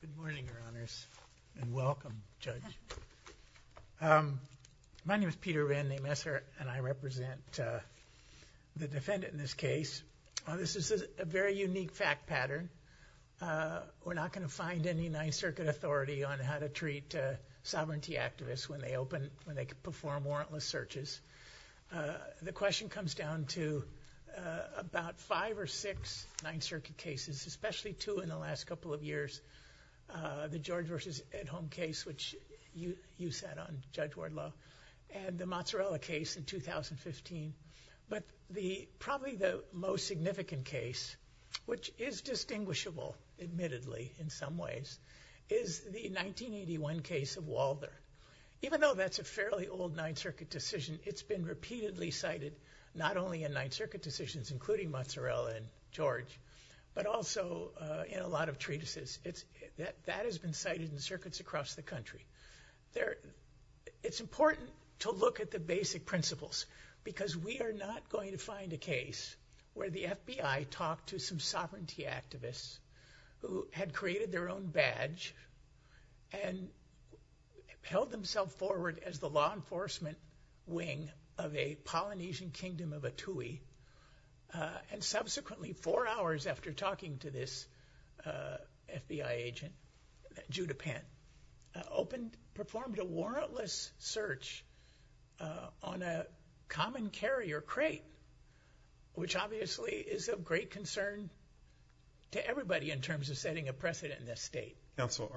Good morning, Your Honors, and welcome, Judge. My name is Peter Van de Messer, and I represent the defendant in this case. This is a very unique fact pattern. We're not going to find any Ninth Circuit authority on how to treat sovereignty activists when they open, when they perform warrantless searches. The question comes down to about five or six Ninth Circuit cases, especially two in the last couple of years, the George v. Edholm case, which you sat on, Judge Wardlow, and the Mozzarella case in 2015. But probably the most significant case, which is distinguishable, admittedly, in some ways, is the 1981 case of Walder. Even though that's a fairly old Ninth Circuit decision, it's been repeatedly cited, not only in Ninth Circuit decisions, including Mozzarella and George, but also in a lot of treatises. That has been cited in circuits across the country. It's important to look at the basic principles, because we are not going to find a case where the FBI talked to some sovereignty activists who had created their own badge and held themselves forward as the law enforcement wing of a Polynesian kingdom of Atui, and subsequently, four hours after talking to this FBI agent, Judah Penn, performed a warrantless search on a common carrier crate, which obviously is of great concern to everybody in terms of setting a precedent in this state. Counsel,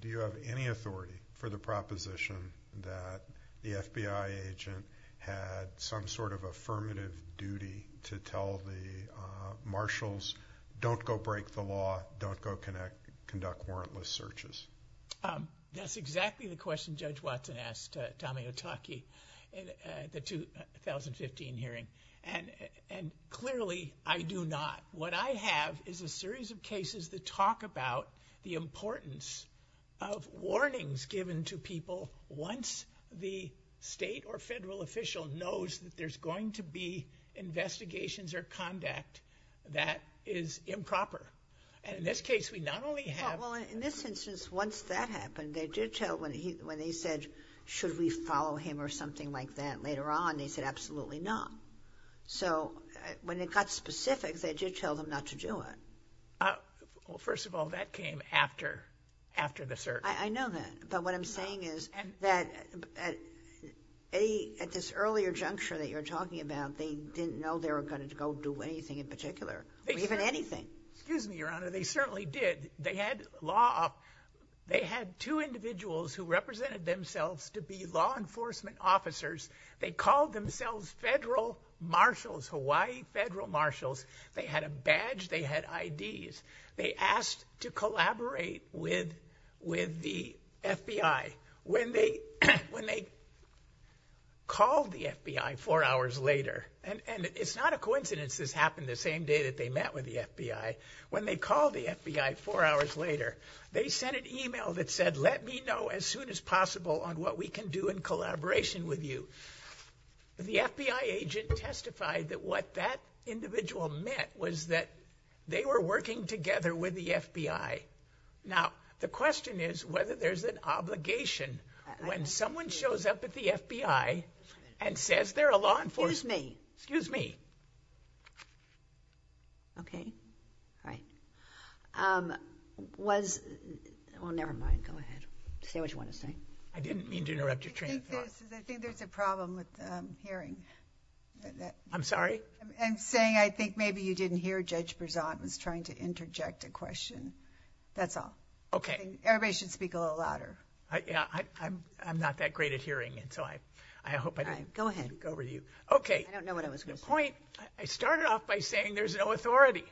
do you have any authority for the proposition that the FBI agent had some sort of affirmative duty to tell the marshals, don't go break the law, don't go conduct warrantless searches? That's exactly the question Judge Watson asked Tommy Otake at the 2015 hearing. Clearly, I do not. What I have is a series of cases that talk about the importance of warnings given to people once the state or federal official knows that there's going to be investigations or conduct that is improper. And in this case, we not only have... Well, in this instance, once that happened, they did tell, when they said, should we follow him or something like that later on, they said, absolutely not. So when it got specific, they did tell them not to do it. Well, first of all, that came after the search. I know that. But what I'm saying is that at this earlier juncture that you're talking about, they didn't know they were going to go do anything in particular, or even anything. Excuse me, Your Honor. They certainly did. They had two individuals who represented themselves to be law enforcement officers. They called themselves federal marshals, Hawaii federal marshals. They had a badge. They had IDs. They asked to collaborate with the FBI. When they called the FBI four hours later, and it's not a coincidence this happened the same day that they met with the FBI, when they called the FBI four hours later, they sent an email that said, let me know as soon as possible on what we can do in collaboration with you. The FBI agent testified that what that individual met was that they were working together with the FBI. Now, the question is whether there's an obligation when someone shows up at the FBI and says they're a law enforcement... Excuse me. Excuse me. Okay. All right. Was... Well, never mind. Go ahead. Say what you want to say. I didn't mean to interrupt your train of thought. I think there's a problem with hearing. I'm sorry? I'm saying I think maybe you didn't hear Judge Berzant was trying to interject a question. That's all. Okay. Everybody should speak a little louder. Yeah. I'm not that great at hearing, and so I hope I didn't go over to you. Okay. I don't know what I was going to say. The point... I started off by saying there's no authority.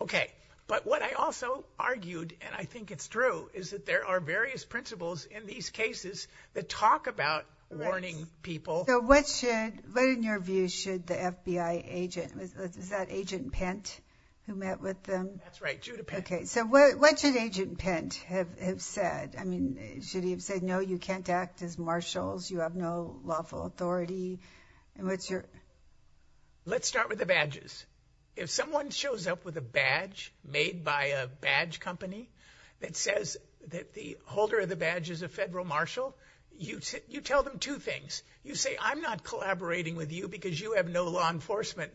Okay. But what I also argued, and I think it's true, is that there are various principles in these cases that talk about warning people. So what should... What, in your view, should the FBI agent... Is that Agent Pint who met with them? That's right. Judah Pint. Okay. So what should Agent Pint have said? I mean, should he have said, no, you can't act as marshals. You have no lawful authority. And what's your... Let's start with the badges. If someone shows up with a badge made by a badge company that says that the holder of the badge is a federal marshal, you tell them two things. You say, I'm not collaborating with you because you have no law enforcement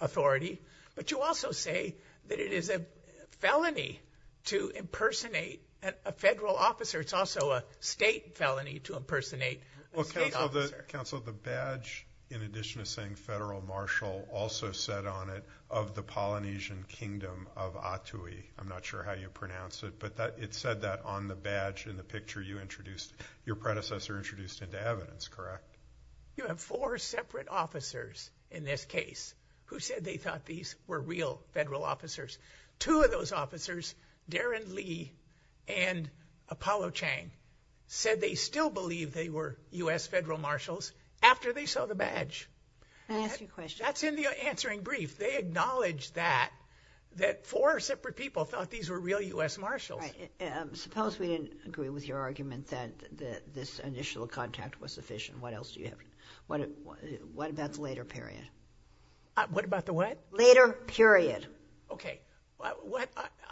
authority, but you also say that it is a felony to impersonate a federal officer. It's also a state felony to impersonate a state officer. Well, counsel, the badge, in addition to saying federal marshal, also said on it, of the Polynesian kingdom of Atui. I'm not sure how you pronounce it, but it said that on the badge in the picture you introduced, your predecessor introduced into evidence, correct? You have four separate officers in this case who said they thought these were real federal officers. Two of those officers, Darren Lee and Apollo Chang, said they still believe they were US federal marshals after they saw the badge. Can I ask you a question? That's in the answering brief. They acknowledged that, that four separate people thought these were real US marshals. Suppose we didn't agree with your argument that this initial contact was sufficient. What else do you have? What about the later period? What about the what? Later period. Okay.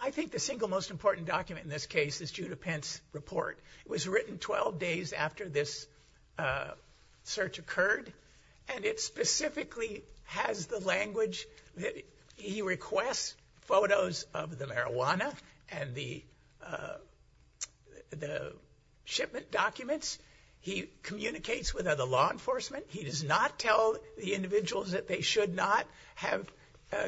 I think the single most important document in this case is Judah Pence report. It was written 12 days after this search occurred, and it specifically has the language. He requests photos of the marijuana and the shipment documents. He communicates with other law enforcement. He does not tell the individuals that they should not have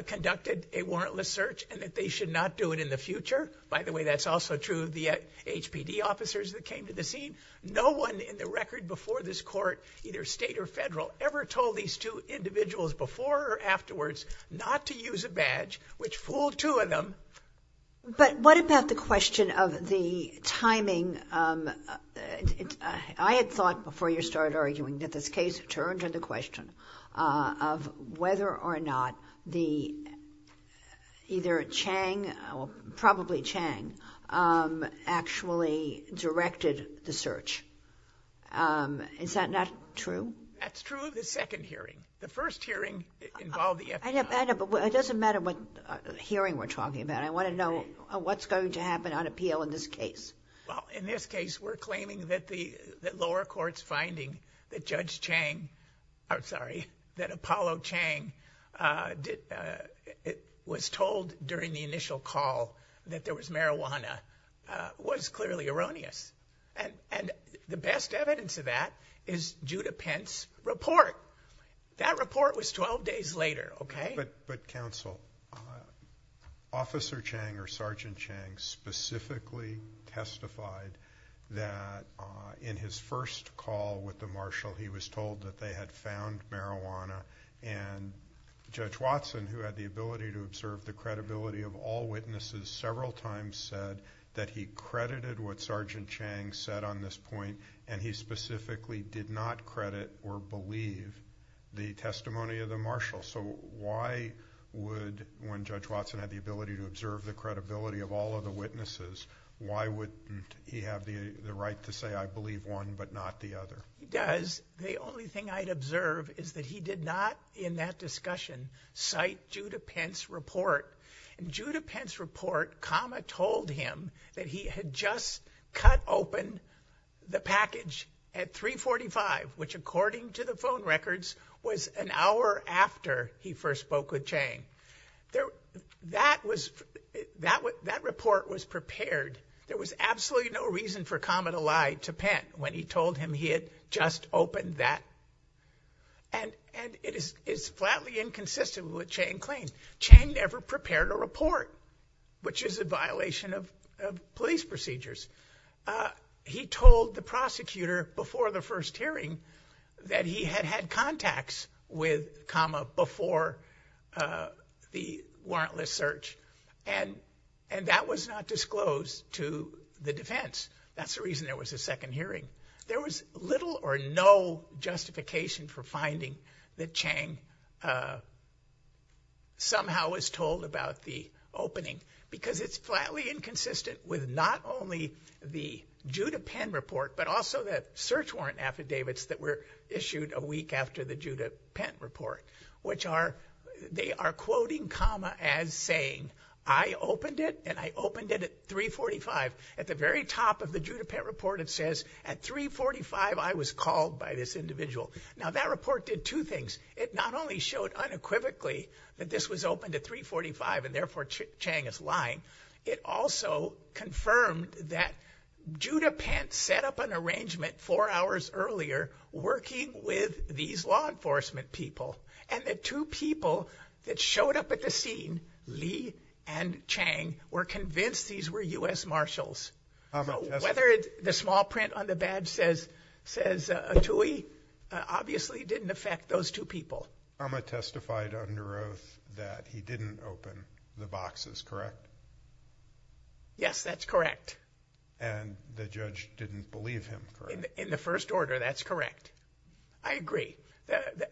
conducted a warrantless search and that they should not do it in the future. By the way, that's also true of the HPD officers that came to the scene. No one in the record before this court, either state or federal, ever told these two individuals before or afterwards not to use a badge, which fooled two of them. But what about the question of the timing? I had thought before you started arguing that this case turned to the question of whether or not the either Chang, probably Chang, actually directed the search. Is that not true? That's true of the second hearing. The first hearing involved the FBI. I know, but it doesn't matter what hearing we're talking about. I want to know what's going to happen on appeal in this case. Well, in this case, we're claiming that the lower court's finding that Judge Chang, I'm sorry, that Apollo Chang was told during the initial call that there was marijuana was clearly erroneous. And the best evidence of that is Judah Pence's report. That report was 12 days later, okay? But counsel, Officer Chang or Sergeant Chang specifically testified that in his first call with the marshal, he was told that they had found marijuana. And Judge Watson, who had the ability to observe the credibility of all witnesses, several times said that he credited what Sergeant Chang said on this point, and he specifically did not credit or believe the testimony of the marshal. So why would, when Judge Watson had the ability to observe the credibility of all of the witnesses, why would he have the right to say, I believe one but not the other? He does. The only thing I'd observe is that he did not, in that discussion, cite Judah Pence's report. In Judah Pence's report, Kama told him that he had just cut open the package at 345, which according to the phone records was an hour after he first spoke with Chang. That was, that report was prepared. There was absolutely no reason for Kama to lie to just open that. And, and it is, it's flatly inconsistent with Chang's claim. Chang never prepared a report, which is a violation of police procedures. He told the prosecutor before the first hearing that he had had contacts with Kama before the warrantless search. And, and that was not disclosed to the defense. That's the reason there was a second hearing. There was little or no justification for finding that Chang somehow was told about the opening, because it's flatly inconsistent with not only the Judah Pence report, but also the search warrant affidavits that were issued a week after the Judah Pence report, which are, they are quoting Kama as saying, I opened it and I opened it at 345. At the very top of the Judah Pence report, it says at 345, I was called by this individual. Now that report did two things. It not only showed unequivocally that this was open to 345 and therefore Chang is lying. It also confirmed that Judah Pence set up an arrangement four hours earlier, working with these law enforcement people, and the two people that showed up at the scene, Lee and Chang, were convinced these were U.S. Marshals. Whether it's the small print on the badge says, says Tui, obviously didn't affect those two people. Kama testified under oath that he didn't open the boxes, correct? Yes, that's correct. And the judge didn't believe him? In the first order, that's correct. I agree.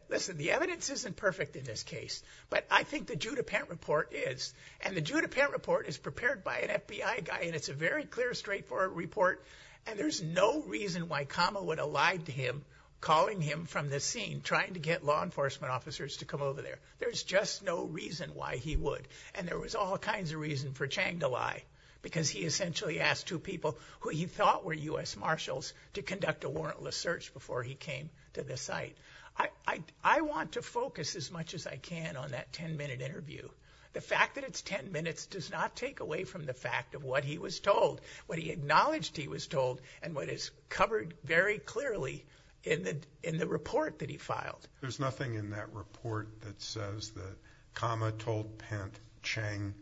Listen, the evidence isn't perfect in this case, but I think the Judah Pence report is, and the Judah Pence report is a very clear, straightforward report, and there's no reason why Kama would have lied to him, calling him from the scene, trying to get law enforcement officers to come over there. There's just no reason why he would. And there was all kinds of reason for Chang to lie, because he essentially asked two people who he thought were U.S. Marshals to conduct a warrantless search before he came to the site. I want to focus as much as I can on that 10-minute interview. The fact that it's 10 minutes does not take away from the fact of what he was told, what he acknowledged he was told, and what is covered very clearly in the, in the report that he filed. There's nothing in that report that says that Kama told Pence, Chang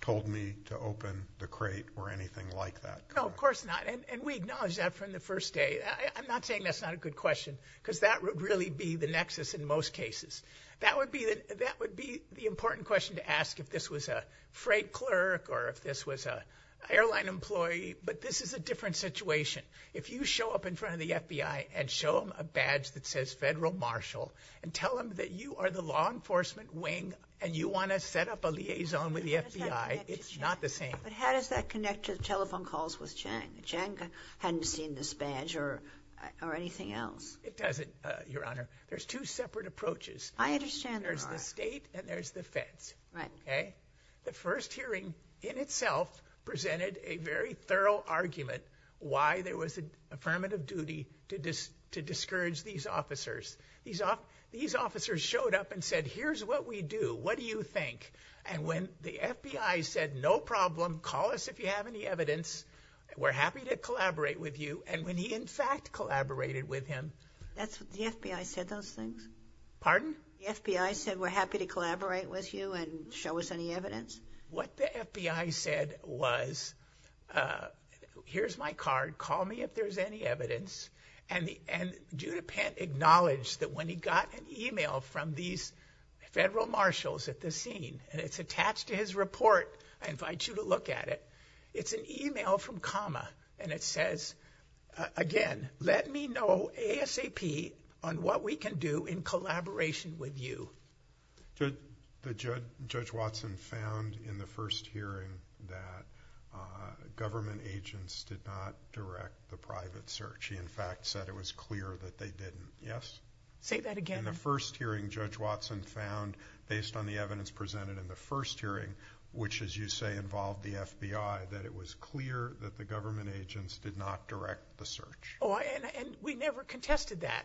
told me to open the crate, or anything like that. No, of course not. And we acknowledge that from the first day. I'm not saying that's not a good question, because that would really be the nexus in most cases. That would be the, that would be the important question to ask if this was a freight clerk, or if this was a airline employee. But this is a different situation. If you show up in front of the FBI, and show them a badge that says Federal Marshal, and tell them that you are the law enforcement wing, and you want to set up a liaison with the FBI, it's not the same. But how does that connect to the telephone calls with Chang? Chang hadn't seen this badge, or, or anything else. It doesn't, Your Honor. There's two separate approaches. I understand. There's the state, and there's the feds. Right. Okay. The first hearing, in itself, presented a very thorough argument, why there was an affirmative duty to discourage these officers. These officers showed up, and said, here's what we do. What do you think? And when the FBI said, no problem. Call us if you have any evidence. We're happy to collaborate with you. And when he, in fact, collaborated with him. That's what the FBI said, those things. Pardon? The FBI said, we're happy to collaborate with you, and show us any evidence. What the FBI said was, here's my card. Call me if there's any evidence. And the, and Judah Pent acknowledged that when he got an email from these Federal Marshals at the scene, and it's attached to his report, I invite you to look at it. It's an email from Kama, and it says, again, let me know ASAP on what we can do in collaboration with you. The judge, Judge Watson, found in the first hearing that government agents did not direct the private search. He, in fact, said it was clear that they didn't. Yes? Say that again. In the first hearing, Judge Watson found, based on the evidence presented in the first hearing, which, as you say, involved the FBI, that it was clear that the government agents did not direct the search. Oh, and, and we never contested that.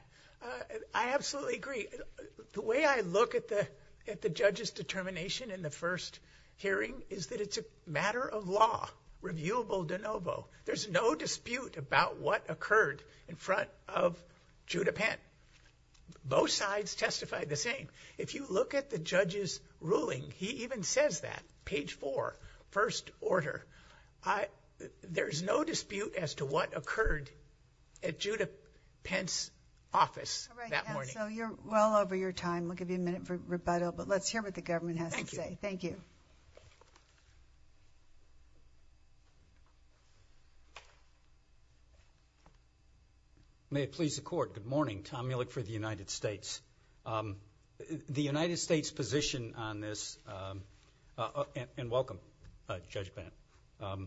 I absolutely agree. The way I look at the, at the judge's determination in the first hearing is that it's a matter of law, reviewable de novo. There's no dispute about what occurred in front of Judah Pent. Both sides testify the same. If you look at the judge's ruling, he even says that, page four, first order. I, there's no dispute as to what occurred at Judah Pent's office that morning. All right, counsel, you're well over your time. We'll give you a minute for rebuttal, but let's hear what the government has to say. Thank you. May it please the court. Good morning. Tom Muehlek for the United States. The United States' position on this, and welcome, Judge Pent.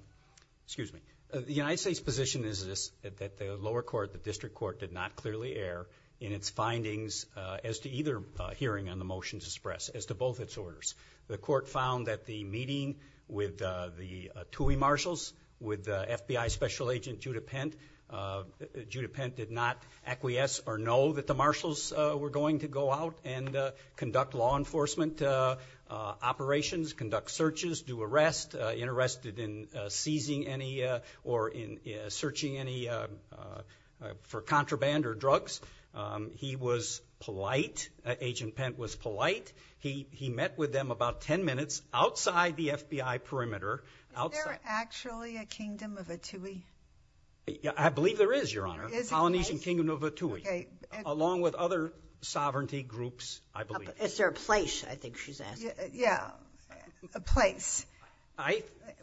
Excuse me. The United States' position is this, that the lower court, the district court, did not clearly err in its findings as to either hearing on the motions expressed, as to both its orders. The court found that the meeting with the TUI marshals, with the FBI Special Agent Judah Pent, Judah Pent did not acquiesce or know that the marshals were going to go out and conduct law enforcement operations, conduct searches, do arrests. Interested in seizing any, or in searching any, for contraband or drugs. He was polite. Agent Pent was polite. He, he met with them about ten minutes outside the FBI perimeter. Outside. Is there actually a kingdom of a TUI? I believe there is, Your Honor. Is there a place? The Polynesian Kingdom of a TUI. Okay. Along with other sovereignty groups, I believe. Is there a place, I think she's asking. Yeah, a place.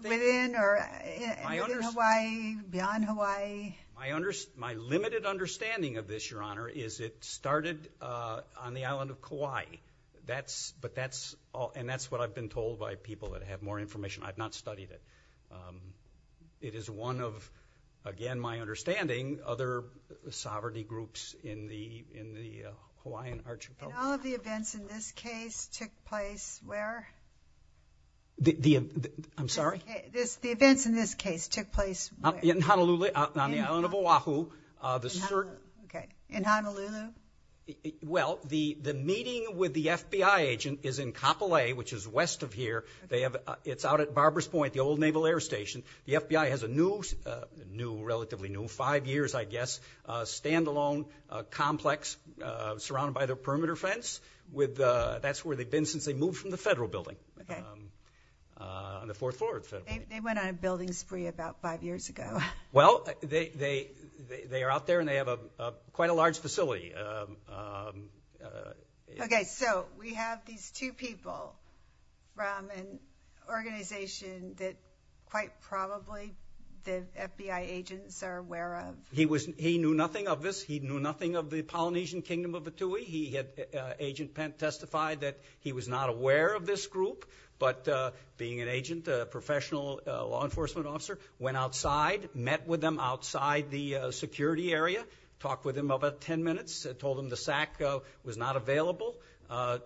Within or within Hawaii? Beyond Hawaii? My limited understanding of this, Your Honor, is it started on the island of Kauai. That's, but that's, and that's what I've been told by people that have more information. I've not studied it. It is one of, again, my understanding, other sovereignty groups in the, in the Hawaiian archipelago. And all of the events in this case took place where? The, the, I'm sorry? The events in this case took place where? In Honolulu, out on the island of Oahu. Okay. In Honolulu? Well, the, the meeting with the FBI agent is in Kapolei, which is west of here. They have, it's out at Barbara's Point, the old Naval Air Station. The FBI has a new, new, relatively new, five years, I guess, standalone complex surrounded by the perimeter fence with, that's where they've been since they moved from the federal building. Okay. On the fourth floor of the federal building. They went on a building spree about five years ago. Well, they, they, they are out there and they have a, quite a large facility. Okay, so we have these two people from an organization that quite probably the FBI agents are aware of? He was, he knew nothing of this. He knew nothing of the Polynesian Kingdom of Vitui. He had, Agent Pent testified that he was not aware of this group, but being an agent, a professional law enforcement officer, went outside, met with them outside the security area, talked with him about 10 minutes, told him the SAC was not available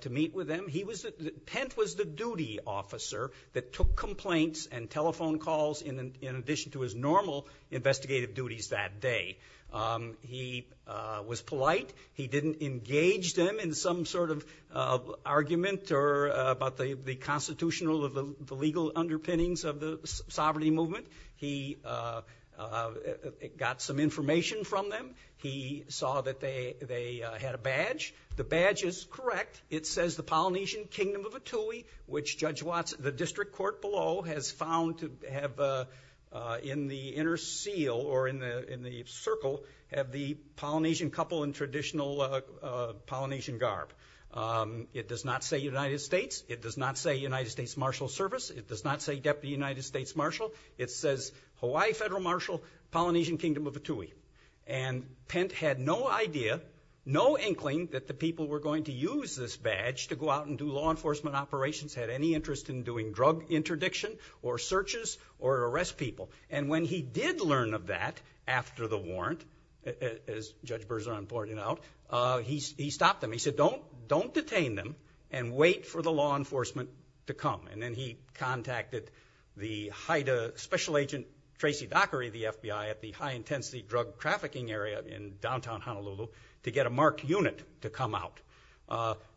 to meet with them. He was, Pent was the duty officer that took complaints and telephone calls in, in addition to his normal investigative duties that day. He was polite. He didn't engage them in some sort of argument or about the, the constitutional of the legal underpinnings of the sovereignty movement. He got some information from them. He saw that they, they had a badge. The badge is correct. It says the Polynesian Kingdom of Vitui, which Judge Watts, the district court below has found to have, in the inner seal or in the, in the circle, have the Polynesian couple in traditional Polynesian garb. It does not say United States. It does not say United States Marshal Service. It does not say Deputy United States Marshal. It says Hawaii Federal Marshal, Polynesian Kingdom of Vitui. And Pent had no idea, no inkling that the people were going to use this badge to go out and do law interdiction or searches or arrest people. And when he did learn of that after the warrant, as Judge Berzon pointed out, he stopped them. He said, don't, don't detain them and wait for the law enforcement to come. And then he contacted the special agent, Tracy Dockery, the FBI at the high-intensity drug trafficking area in downtown Honolulu to get a marked unit to come out.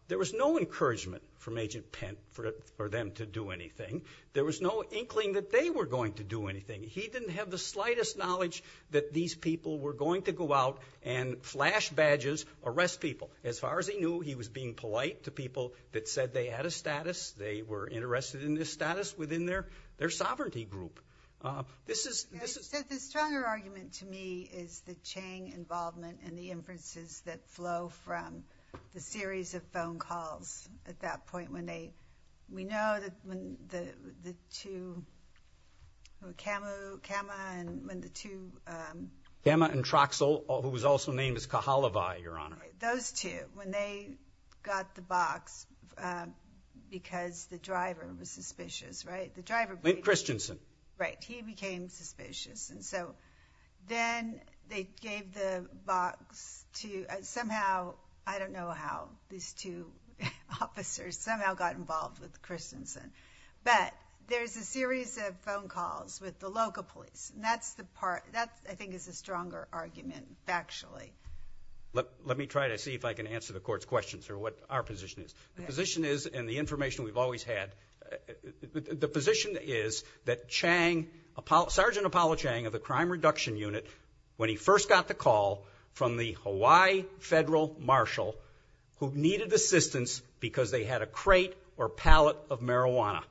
There was no encouragement from Agent Pent for them to do anything. There was no inkling that they were going to do anything. He didn't have the slightest knowledge that these people were going to go out and flash badges, arrest people. As far as he knew, he was being polite to people that said they had a status. They were interested in this status within their, their sovereignty group. This is, this is... The stronger argument to me is the Chang involvement and the inferences that flow from the series of phone calls at that point when they, we know that when the, the two, Camu, Cama and when the two, um... Cama and Troxel, who was also named as Cahalavai, Your Honor. Those two, when they got the box, um, because the driver was suspicious, right? The driver... Lint Christensen. Right. He became suspicious. And so then they gave the box to, somehow, I don't know how these two officers somehow got involved with Christensen. But there's a series of phone calls with the local police. And that's the part, that I think is a stronger argument, factually. Let, let me try to see if I can answer the court's questions or what our position is. The position is, and the Chang, Apollo, Sergeant Apollo Chang of the Crime Reduction Unit, when he first got the call from the Hawaii Federal Marshal, who needed assistance because they had a crate or pallet of marijuana.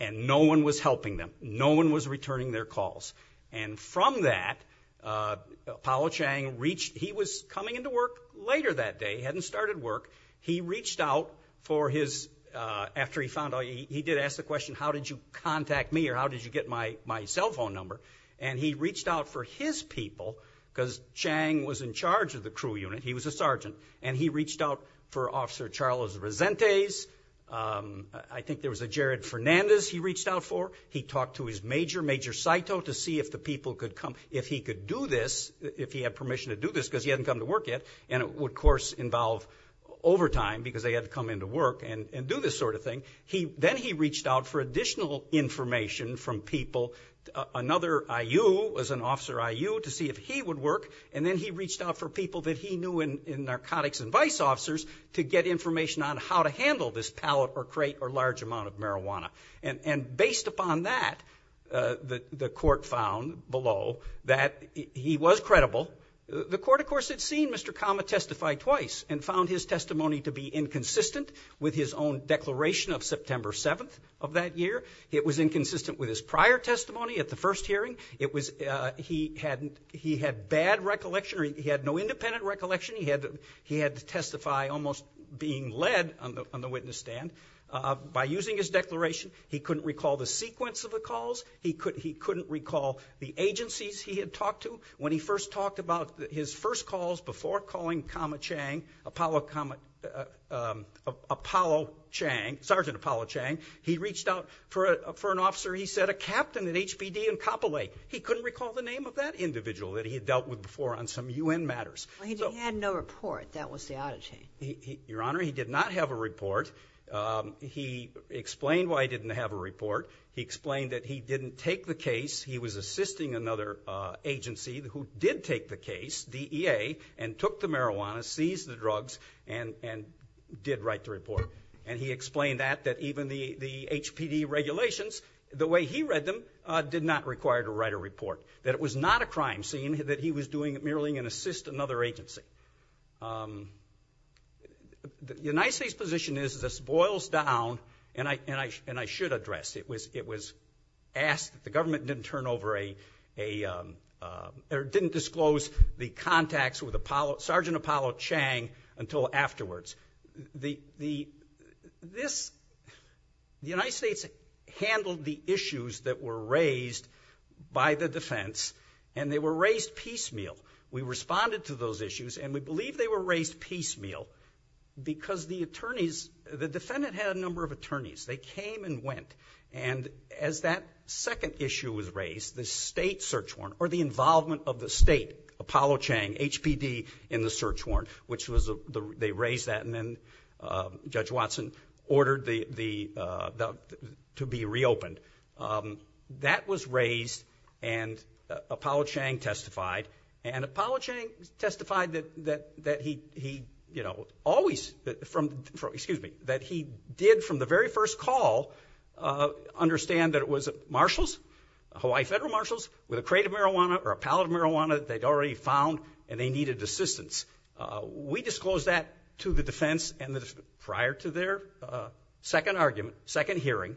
And no one was helping them. No one was returning their calls. And from that, uh, Apollo Chang reached, he was coming into work later that day, hadn't started work. He reached out for his, uh, after he found out, he did ask the question, how did you contact me? Or how did you get my, my cell phone number? And he reached out for his people, because Chang was in charge of the crew unit. He was a sergeant. And he reached out for Officer Charles Resentes. Um, I think there was a Jared Fernandez he reached out for. He talked to his major, Major Saito, to see if the people could come, if he could do this, if he had permission to do this, because he hadn't come to work yet. And it would, of course, involve overtime, because they had to come into work and, and do this sort of thing. He, then he reached out for additional information from people. Uh, another I.U. was an officer I.U. to see if he would work. And then he reached out for people that he knew in, in narcotics and vice officers to get information on how to handle this pallet or crate or large amount of Mr. Kama testified twice and found his testimony to be inconsistent with his own declaration of September 7th of that year. It was inconsistent with his prior testimony at the first hearing. It was, uh, he hadn't, he had bad recollection, or he had no independent recollection. He had, he had to testify almost being led on the, on the witness stand. Uh, by using his declaration, he couldn't recall the name of that individual that he had dealt with before on some U.N. matters. Well, he, he had no report. That was the audit chain. He, he, your Honor, he did not have a report. Um, he explained why he didn't have a report. He explained that he didn't take the case. He was marijuana, seized the drugs, and, and did write the report. And he explained that, that even the, the HPD regulations, the way he read them, uh, did not require to write a report. That it was not a crime scene, that he was doing it merely to assist another agency. Um, the, the United States position is this boils down, and I, and I, and I should address, it was, it was asked, the government didn't turn over a, a, um, uh, or didn't disclose the contacts with Apollo, Sergeant Apollo Chang until afterwards. The, the, this, the United States handled the issues that were raised by the defense, and they were raised piecemeal. We responded to those issues, and we believe they were raised piecemeal because the attorneys, the defendant had a number of attorneys. They came and went. And as that second issue was raised, the state search warrant, or the involvement of the state, Apollo Chang, HPD, in the search warrant, which was the, they raised that, and then, uh, Judge Watson ordered the, the, uh, the, to be reopened. Um, that was raised, and, uh, Apollo Chang testified. And Apollo Chang testified that, that, that he, he, you know, always, from, from, that he did from the very first call, uh, understand that it was marshals, Hawaii federal marshals, with a crate of marijuana or a pallet of marijuana that they'd already found, and they needed assistance. Uh, we disclosed that to the defense and the, prior to their, uh, second argument, second hearing,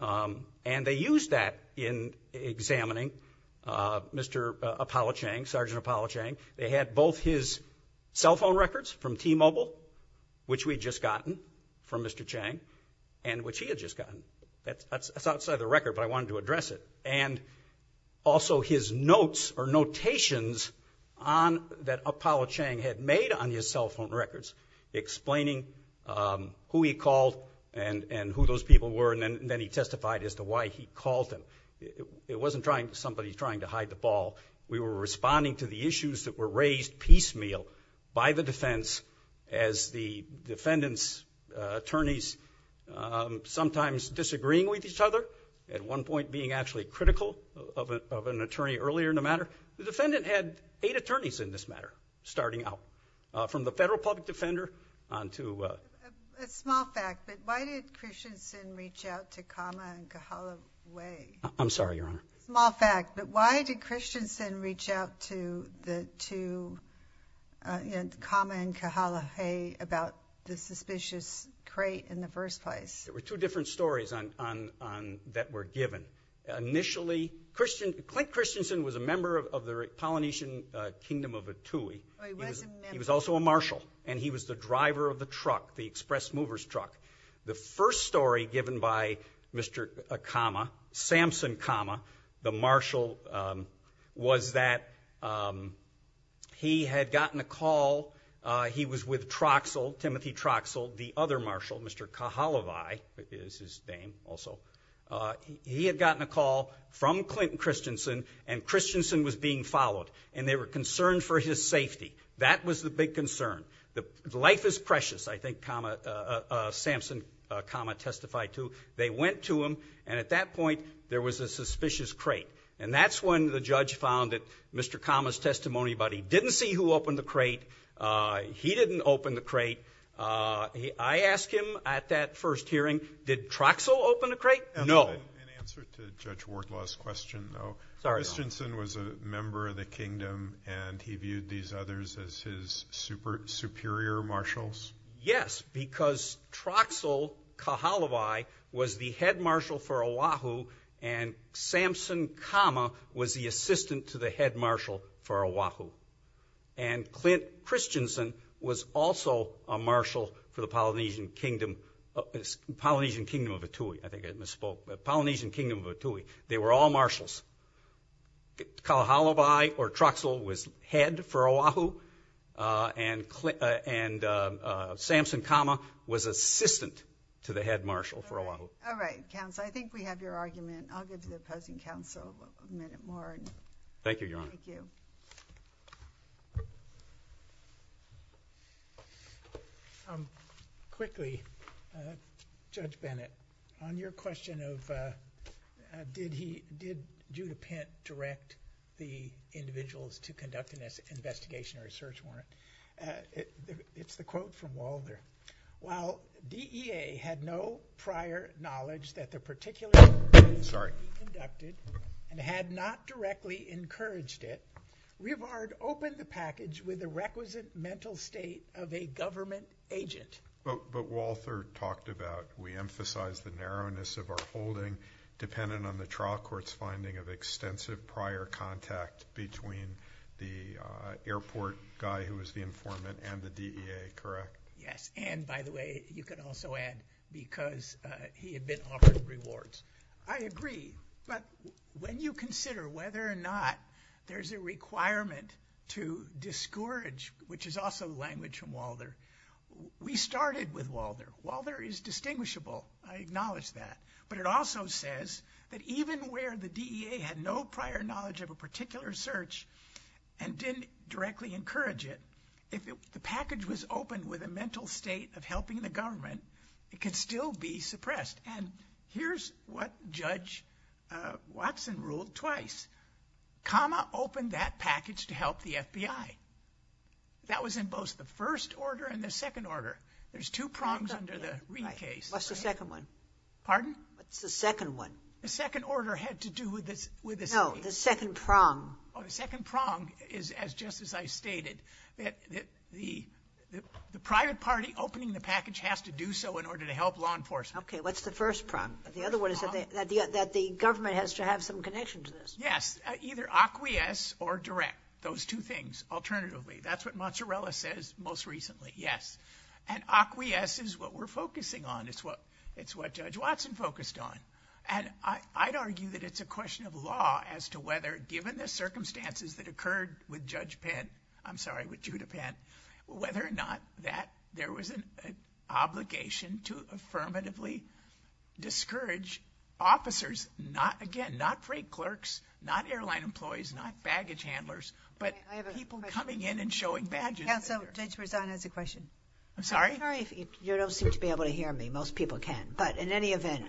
um, and they used that in examining, uh, Mr. Apollo Chang, Sergeant Apollo Chang. They had both his cell phone records from T-Mobile, which we'd just gotten, from Mr. Chang, and which he had just gotten. That's, that's, that's outside the record, but I wanted to address it. And also, his notes, or notations, on, that Apollo Chang had made on his cell phone records, explaining, um, who he called, and, and who those people were, and then, and then he testified as to why he called them. It, it, it wasn't trying, somebody trying to hide the ball. We were responding to the issues that were raised piecemeal by the defense, as the defendants, uh, attorneys, um, sometimes disagreeing with each other, at one point being actually critical of a, of an attorney earlier in the matter. The defendant had eight attorneys in this matter, starting out, uh, from the federal public defender on to, uh. A small fact, but why did Christensen reach out to the suspicious crate in the first place? There were two different stories on, on, on, that were given. Initially, Christensen, Clint Christensen was a member of, of the Polynesian, uh, Kingdom of Atui. Oh, he was a member. He was also a marshal, and he was the driver of the truck, the express movers truck. The first story given by Mr. Akama, Samson Akama, the marshal, um, was that, um, he had gotten a call, uh, he was with Troxel, Timothy Troxel, the other marshal, Mr. Kahalavai, is his name also. Uh, he had gotten a call from Clinton Christensen, and Christensen was being followed, and they were concerned for his safety. That was the big concern. The, the life is precious, I think, Akama, uh, uh, uh, Samson Akama testified to. They went to him, and at that point, there was a suspicious crate, and that's when the judge found that Mr. Akama's testimony about he didn't see who opened the crate, uh, he didn't open the crate, uh, he, I asked him at that first hearing, did Troxel open the crate? No. In answer to Judge Wardlaw's question, though, Christensen was a member of the kingdom, and he viewed these others as his super, superior marshals? Yes, because Troxel Kahalavai was the head marshal for Oahu, and Samson Akama was the assistant to the head marshal for Oahu. And Clint Christensen was also a marshal for the Polynesian kingdom, uh, Polynesian kingdom of Atui, I think I misspoke, but Polynesian kingdom of Atui. They were all marshals. Kahalavai, or Troxel, was head for Oahu, uh, and Clint, uh, and, uh, uh, Samson Akama was assistant to the head marshal for Oahu. All right, counsel, I think we have your argument. I'll go to the opposing counsel a minute more. Thank you, Your Honor. Thank you. Um, quickly, uh, Judge Bennett, on your question of, uh, uh, did he, did Judah Pint direct the individuals to conduct an investigation or a search warrant? Uh, it, it, it's the quote from Walder. While DEA had no prior knowledge that the particular... Sorry. ...conducted and had not directly encouraged it, Rivard opened the package with the requisite mental state of a government agent. But, but Walther talked about, we emphasize the narrowness of our holding dependent on the trial court's finding of extensive prior contact between the, uh, airport guy who was the informant and the DEA, correct? Yes. And, by the way, you could also add because, uh, he had been offered rewards. I agree. But when you consider whether or not there's a requirement to discourage, which is also language from Walther, we started with Walther. Walther is distinguishable. I acknowledge that. But it also says that even where the DEA had no prior knowledge of a particular search and didn't directly encourage it, if the package was opened with a mental state of helping the government, it could still be suppressed. And here's what Judge, uh, Watson ruled twice. Comma opened that package to help the FBI. That was in both the first order and the second order. There's two prongs under the Reid case. What's the second one? Pardon? What's the second one? The second order had to do with this, with this. No, the second prong. Oh, the second prong is as, just as I stated, that, that the, the, the private party opening the package has to do so in order to help law enforcement. Okay. What's the first prong? The other one is that the, that the, that the government has to have some connection to this. Yes. Either acquiesce or direct. Those two things, alternatively. That's what Mozzarella says most recently. Yes. And acquiesce is what we're focusing on. It's what, it's what Judge Watson focused on. And I, I'd argue that it's a question of law as to whether, given the circumstances that occurred with Judge Penn, I'm sorry, with Judah Penn, whether or not that there was an obligation to affirmatively discourage officers, not, again, not freight clerks, not airline employees, not baggage handlers, but people coming in and showing badges. Yeah, so Judge Rosano has a question. I'm sorry? I'm sorry if you, you don't seem to be able to hear me. Most people can. But in any event,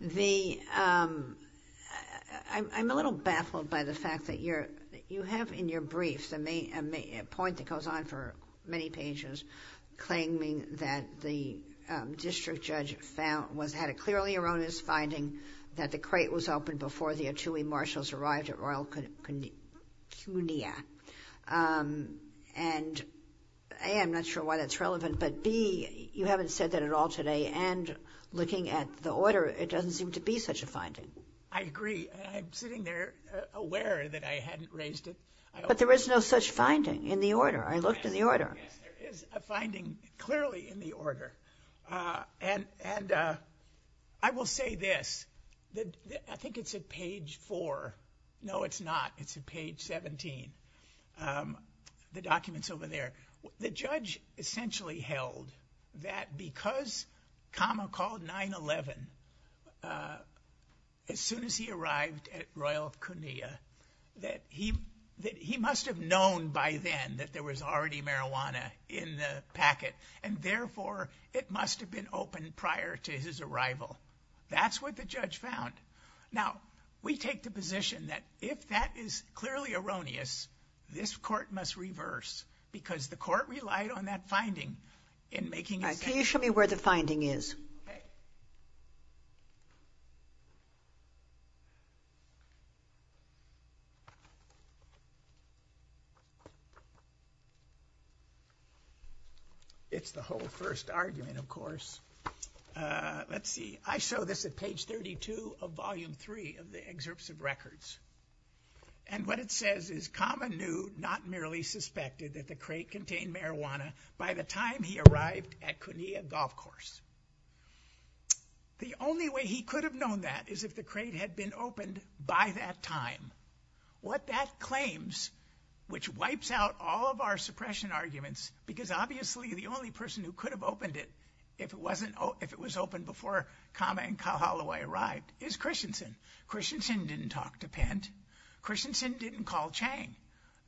the, I'm, I'm a little baffled by the fact that you're, you have in your briefs a main, a point that goes on for many pages claiming that the district judge found, was, had a clearly erroneous finding that the crate was opened before the Atui marshals arrived at Royal Cunia. And A, I'm not sure why that's relevant, but B, you haven't said that at all today. And looking at the order, it doesn't seem to be such a finding. I agree. I'm sitting there aware that I hadn't raised it. But there is no such finding in the order. I looked in the order. Yes, there is a finding clearly in the order. And, and I will say this, that I think it's at page four. No, it's not. It's at page 17. The documents over there. The judge essentially held that because Kama called 9-11 as soon as he arrived at Royal Cunia, that he, that he must have known by then that there was already marijuana in the packet. And therefore, it must have been open prior to his arrival. That's what the judge found. Now, we take the position that if that is clearly erroneous, this court must reverse because the court relied on that finding in making. Can you show me where the finding is? Okay. It's the whole first argument, of course. Let's see. I show this at page 32 of volume three of the excerpts of records. And what it says is Kama knew, not merely suspected, that the crate contained marijuana by the time he arrived at Cunia Golf Course. The only way he could have known that is if the crate had been opened by that time. What that claims, which wipes out all of our suppression arguments, because obviously the only person who could have opened it if it wasn't, if it was open before Kama and Kyle Holloway arrived, is Christensen. Christensen didn't talk to Pent. Christensen didn't call Chang.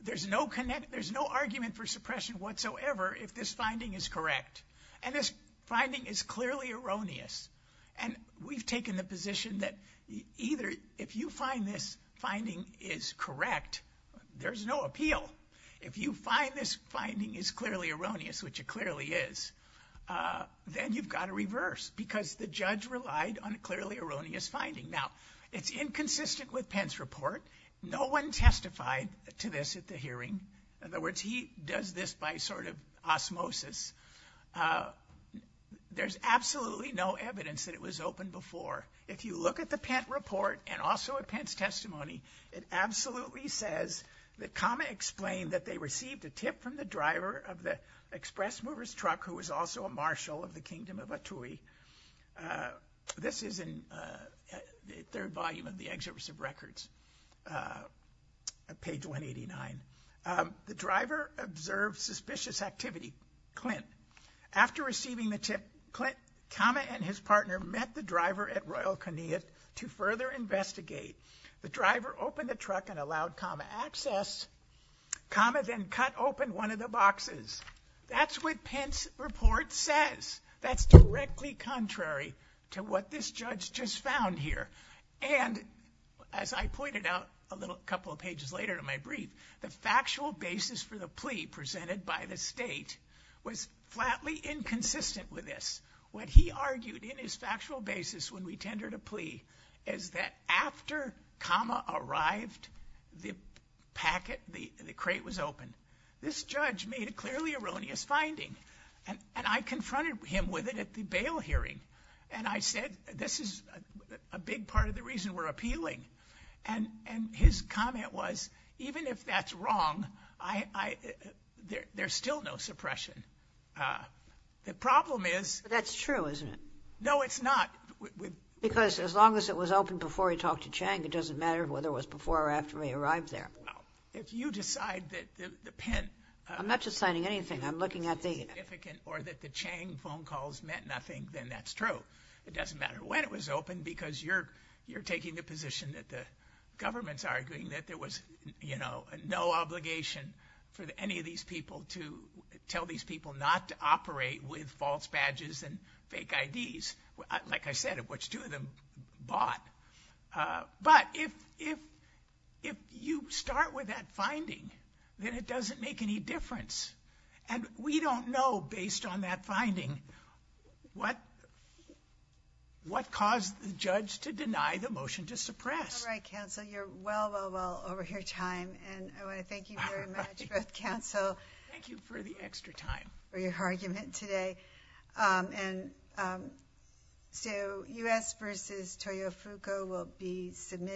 There's no connect, there's no argument for suppression whatsoever if this finding is correct. And this finding is clearly erroneous. And we've taken the position that either if you find this finding is correct, there's no appeal. If you find this finding is clearly erroneous, which it clearly is, then you've got to reverse because the judge relied on a clearly erroneous finding. Now, it's inconsistent with Pent's report. No one testified to this at the hearing. In other words, he does this by sort of osmosis. There's absolutely no evidence that it was open before. If you look at the Pent report and also at Pent's testimony, it absolutely says that Kama explained that they received a tip from the driver of the Express Movers truck, who was also a marshal of the Kingdom of Atui. This is in the third volume of the Exhibit of Records, page 189. The driver observed suspicious activity. Clint. After receiving the tip, Clint, Kama, and his partner met the driver at Royal Kenia to further investigate. The driver opened the truck and allowed Kama access. Kama then cut open one of the boxes. That's what Pent's report says. That's directly contrary to what this judge just found here. As I pointed out a couple of pages later in my brief, the factual basis for the plea presented by the state was flatly inconsistent with this. What he argued in his factual basis when we tendered a plea is that after Kama arrived, the crate was open. This judge made a clearly erroneous finding, and I confronted him with it at the bail hearing. And I said, this is a big part of the reason we're appealing. And his comment was, even if that's wrong, there's still no suppression. The problem is... That's true, isn't it? No, it's not. Because as long as it was open before he talked to Chang, it doesn't matter whether it was before or after he arrived there. If you decide that the pen... I'm not just signing anything. Or that the Chang phone calls meant nothing, then that's true. It doesn't matter when it was open, because you're taking the position that the government's arguing that there was, you know, no obligation for any of these people to tell these people not to operate with false badges and fake IDs. Like I said, which two of them bought. But if you start with that finding, then it doesn't make any difference. And we don't know, based on that finding, what caused the judge to deny the motion to suppress. All right, counsel. You're well, well, well over your time. And I want to thank you very much, both counsel. Thank you for the extra time. For your argument today. And so U.S. versus Toyofuko will be submitted.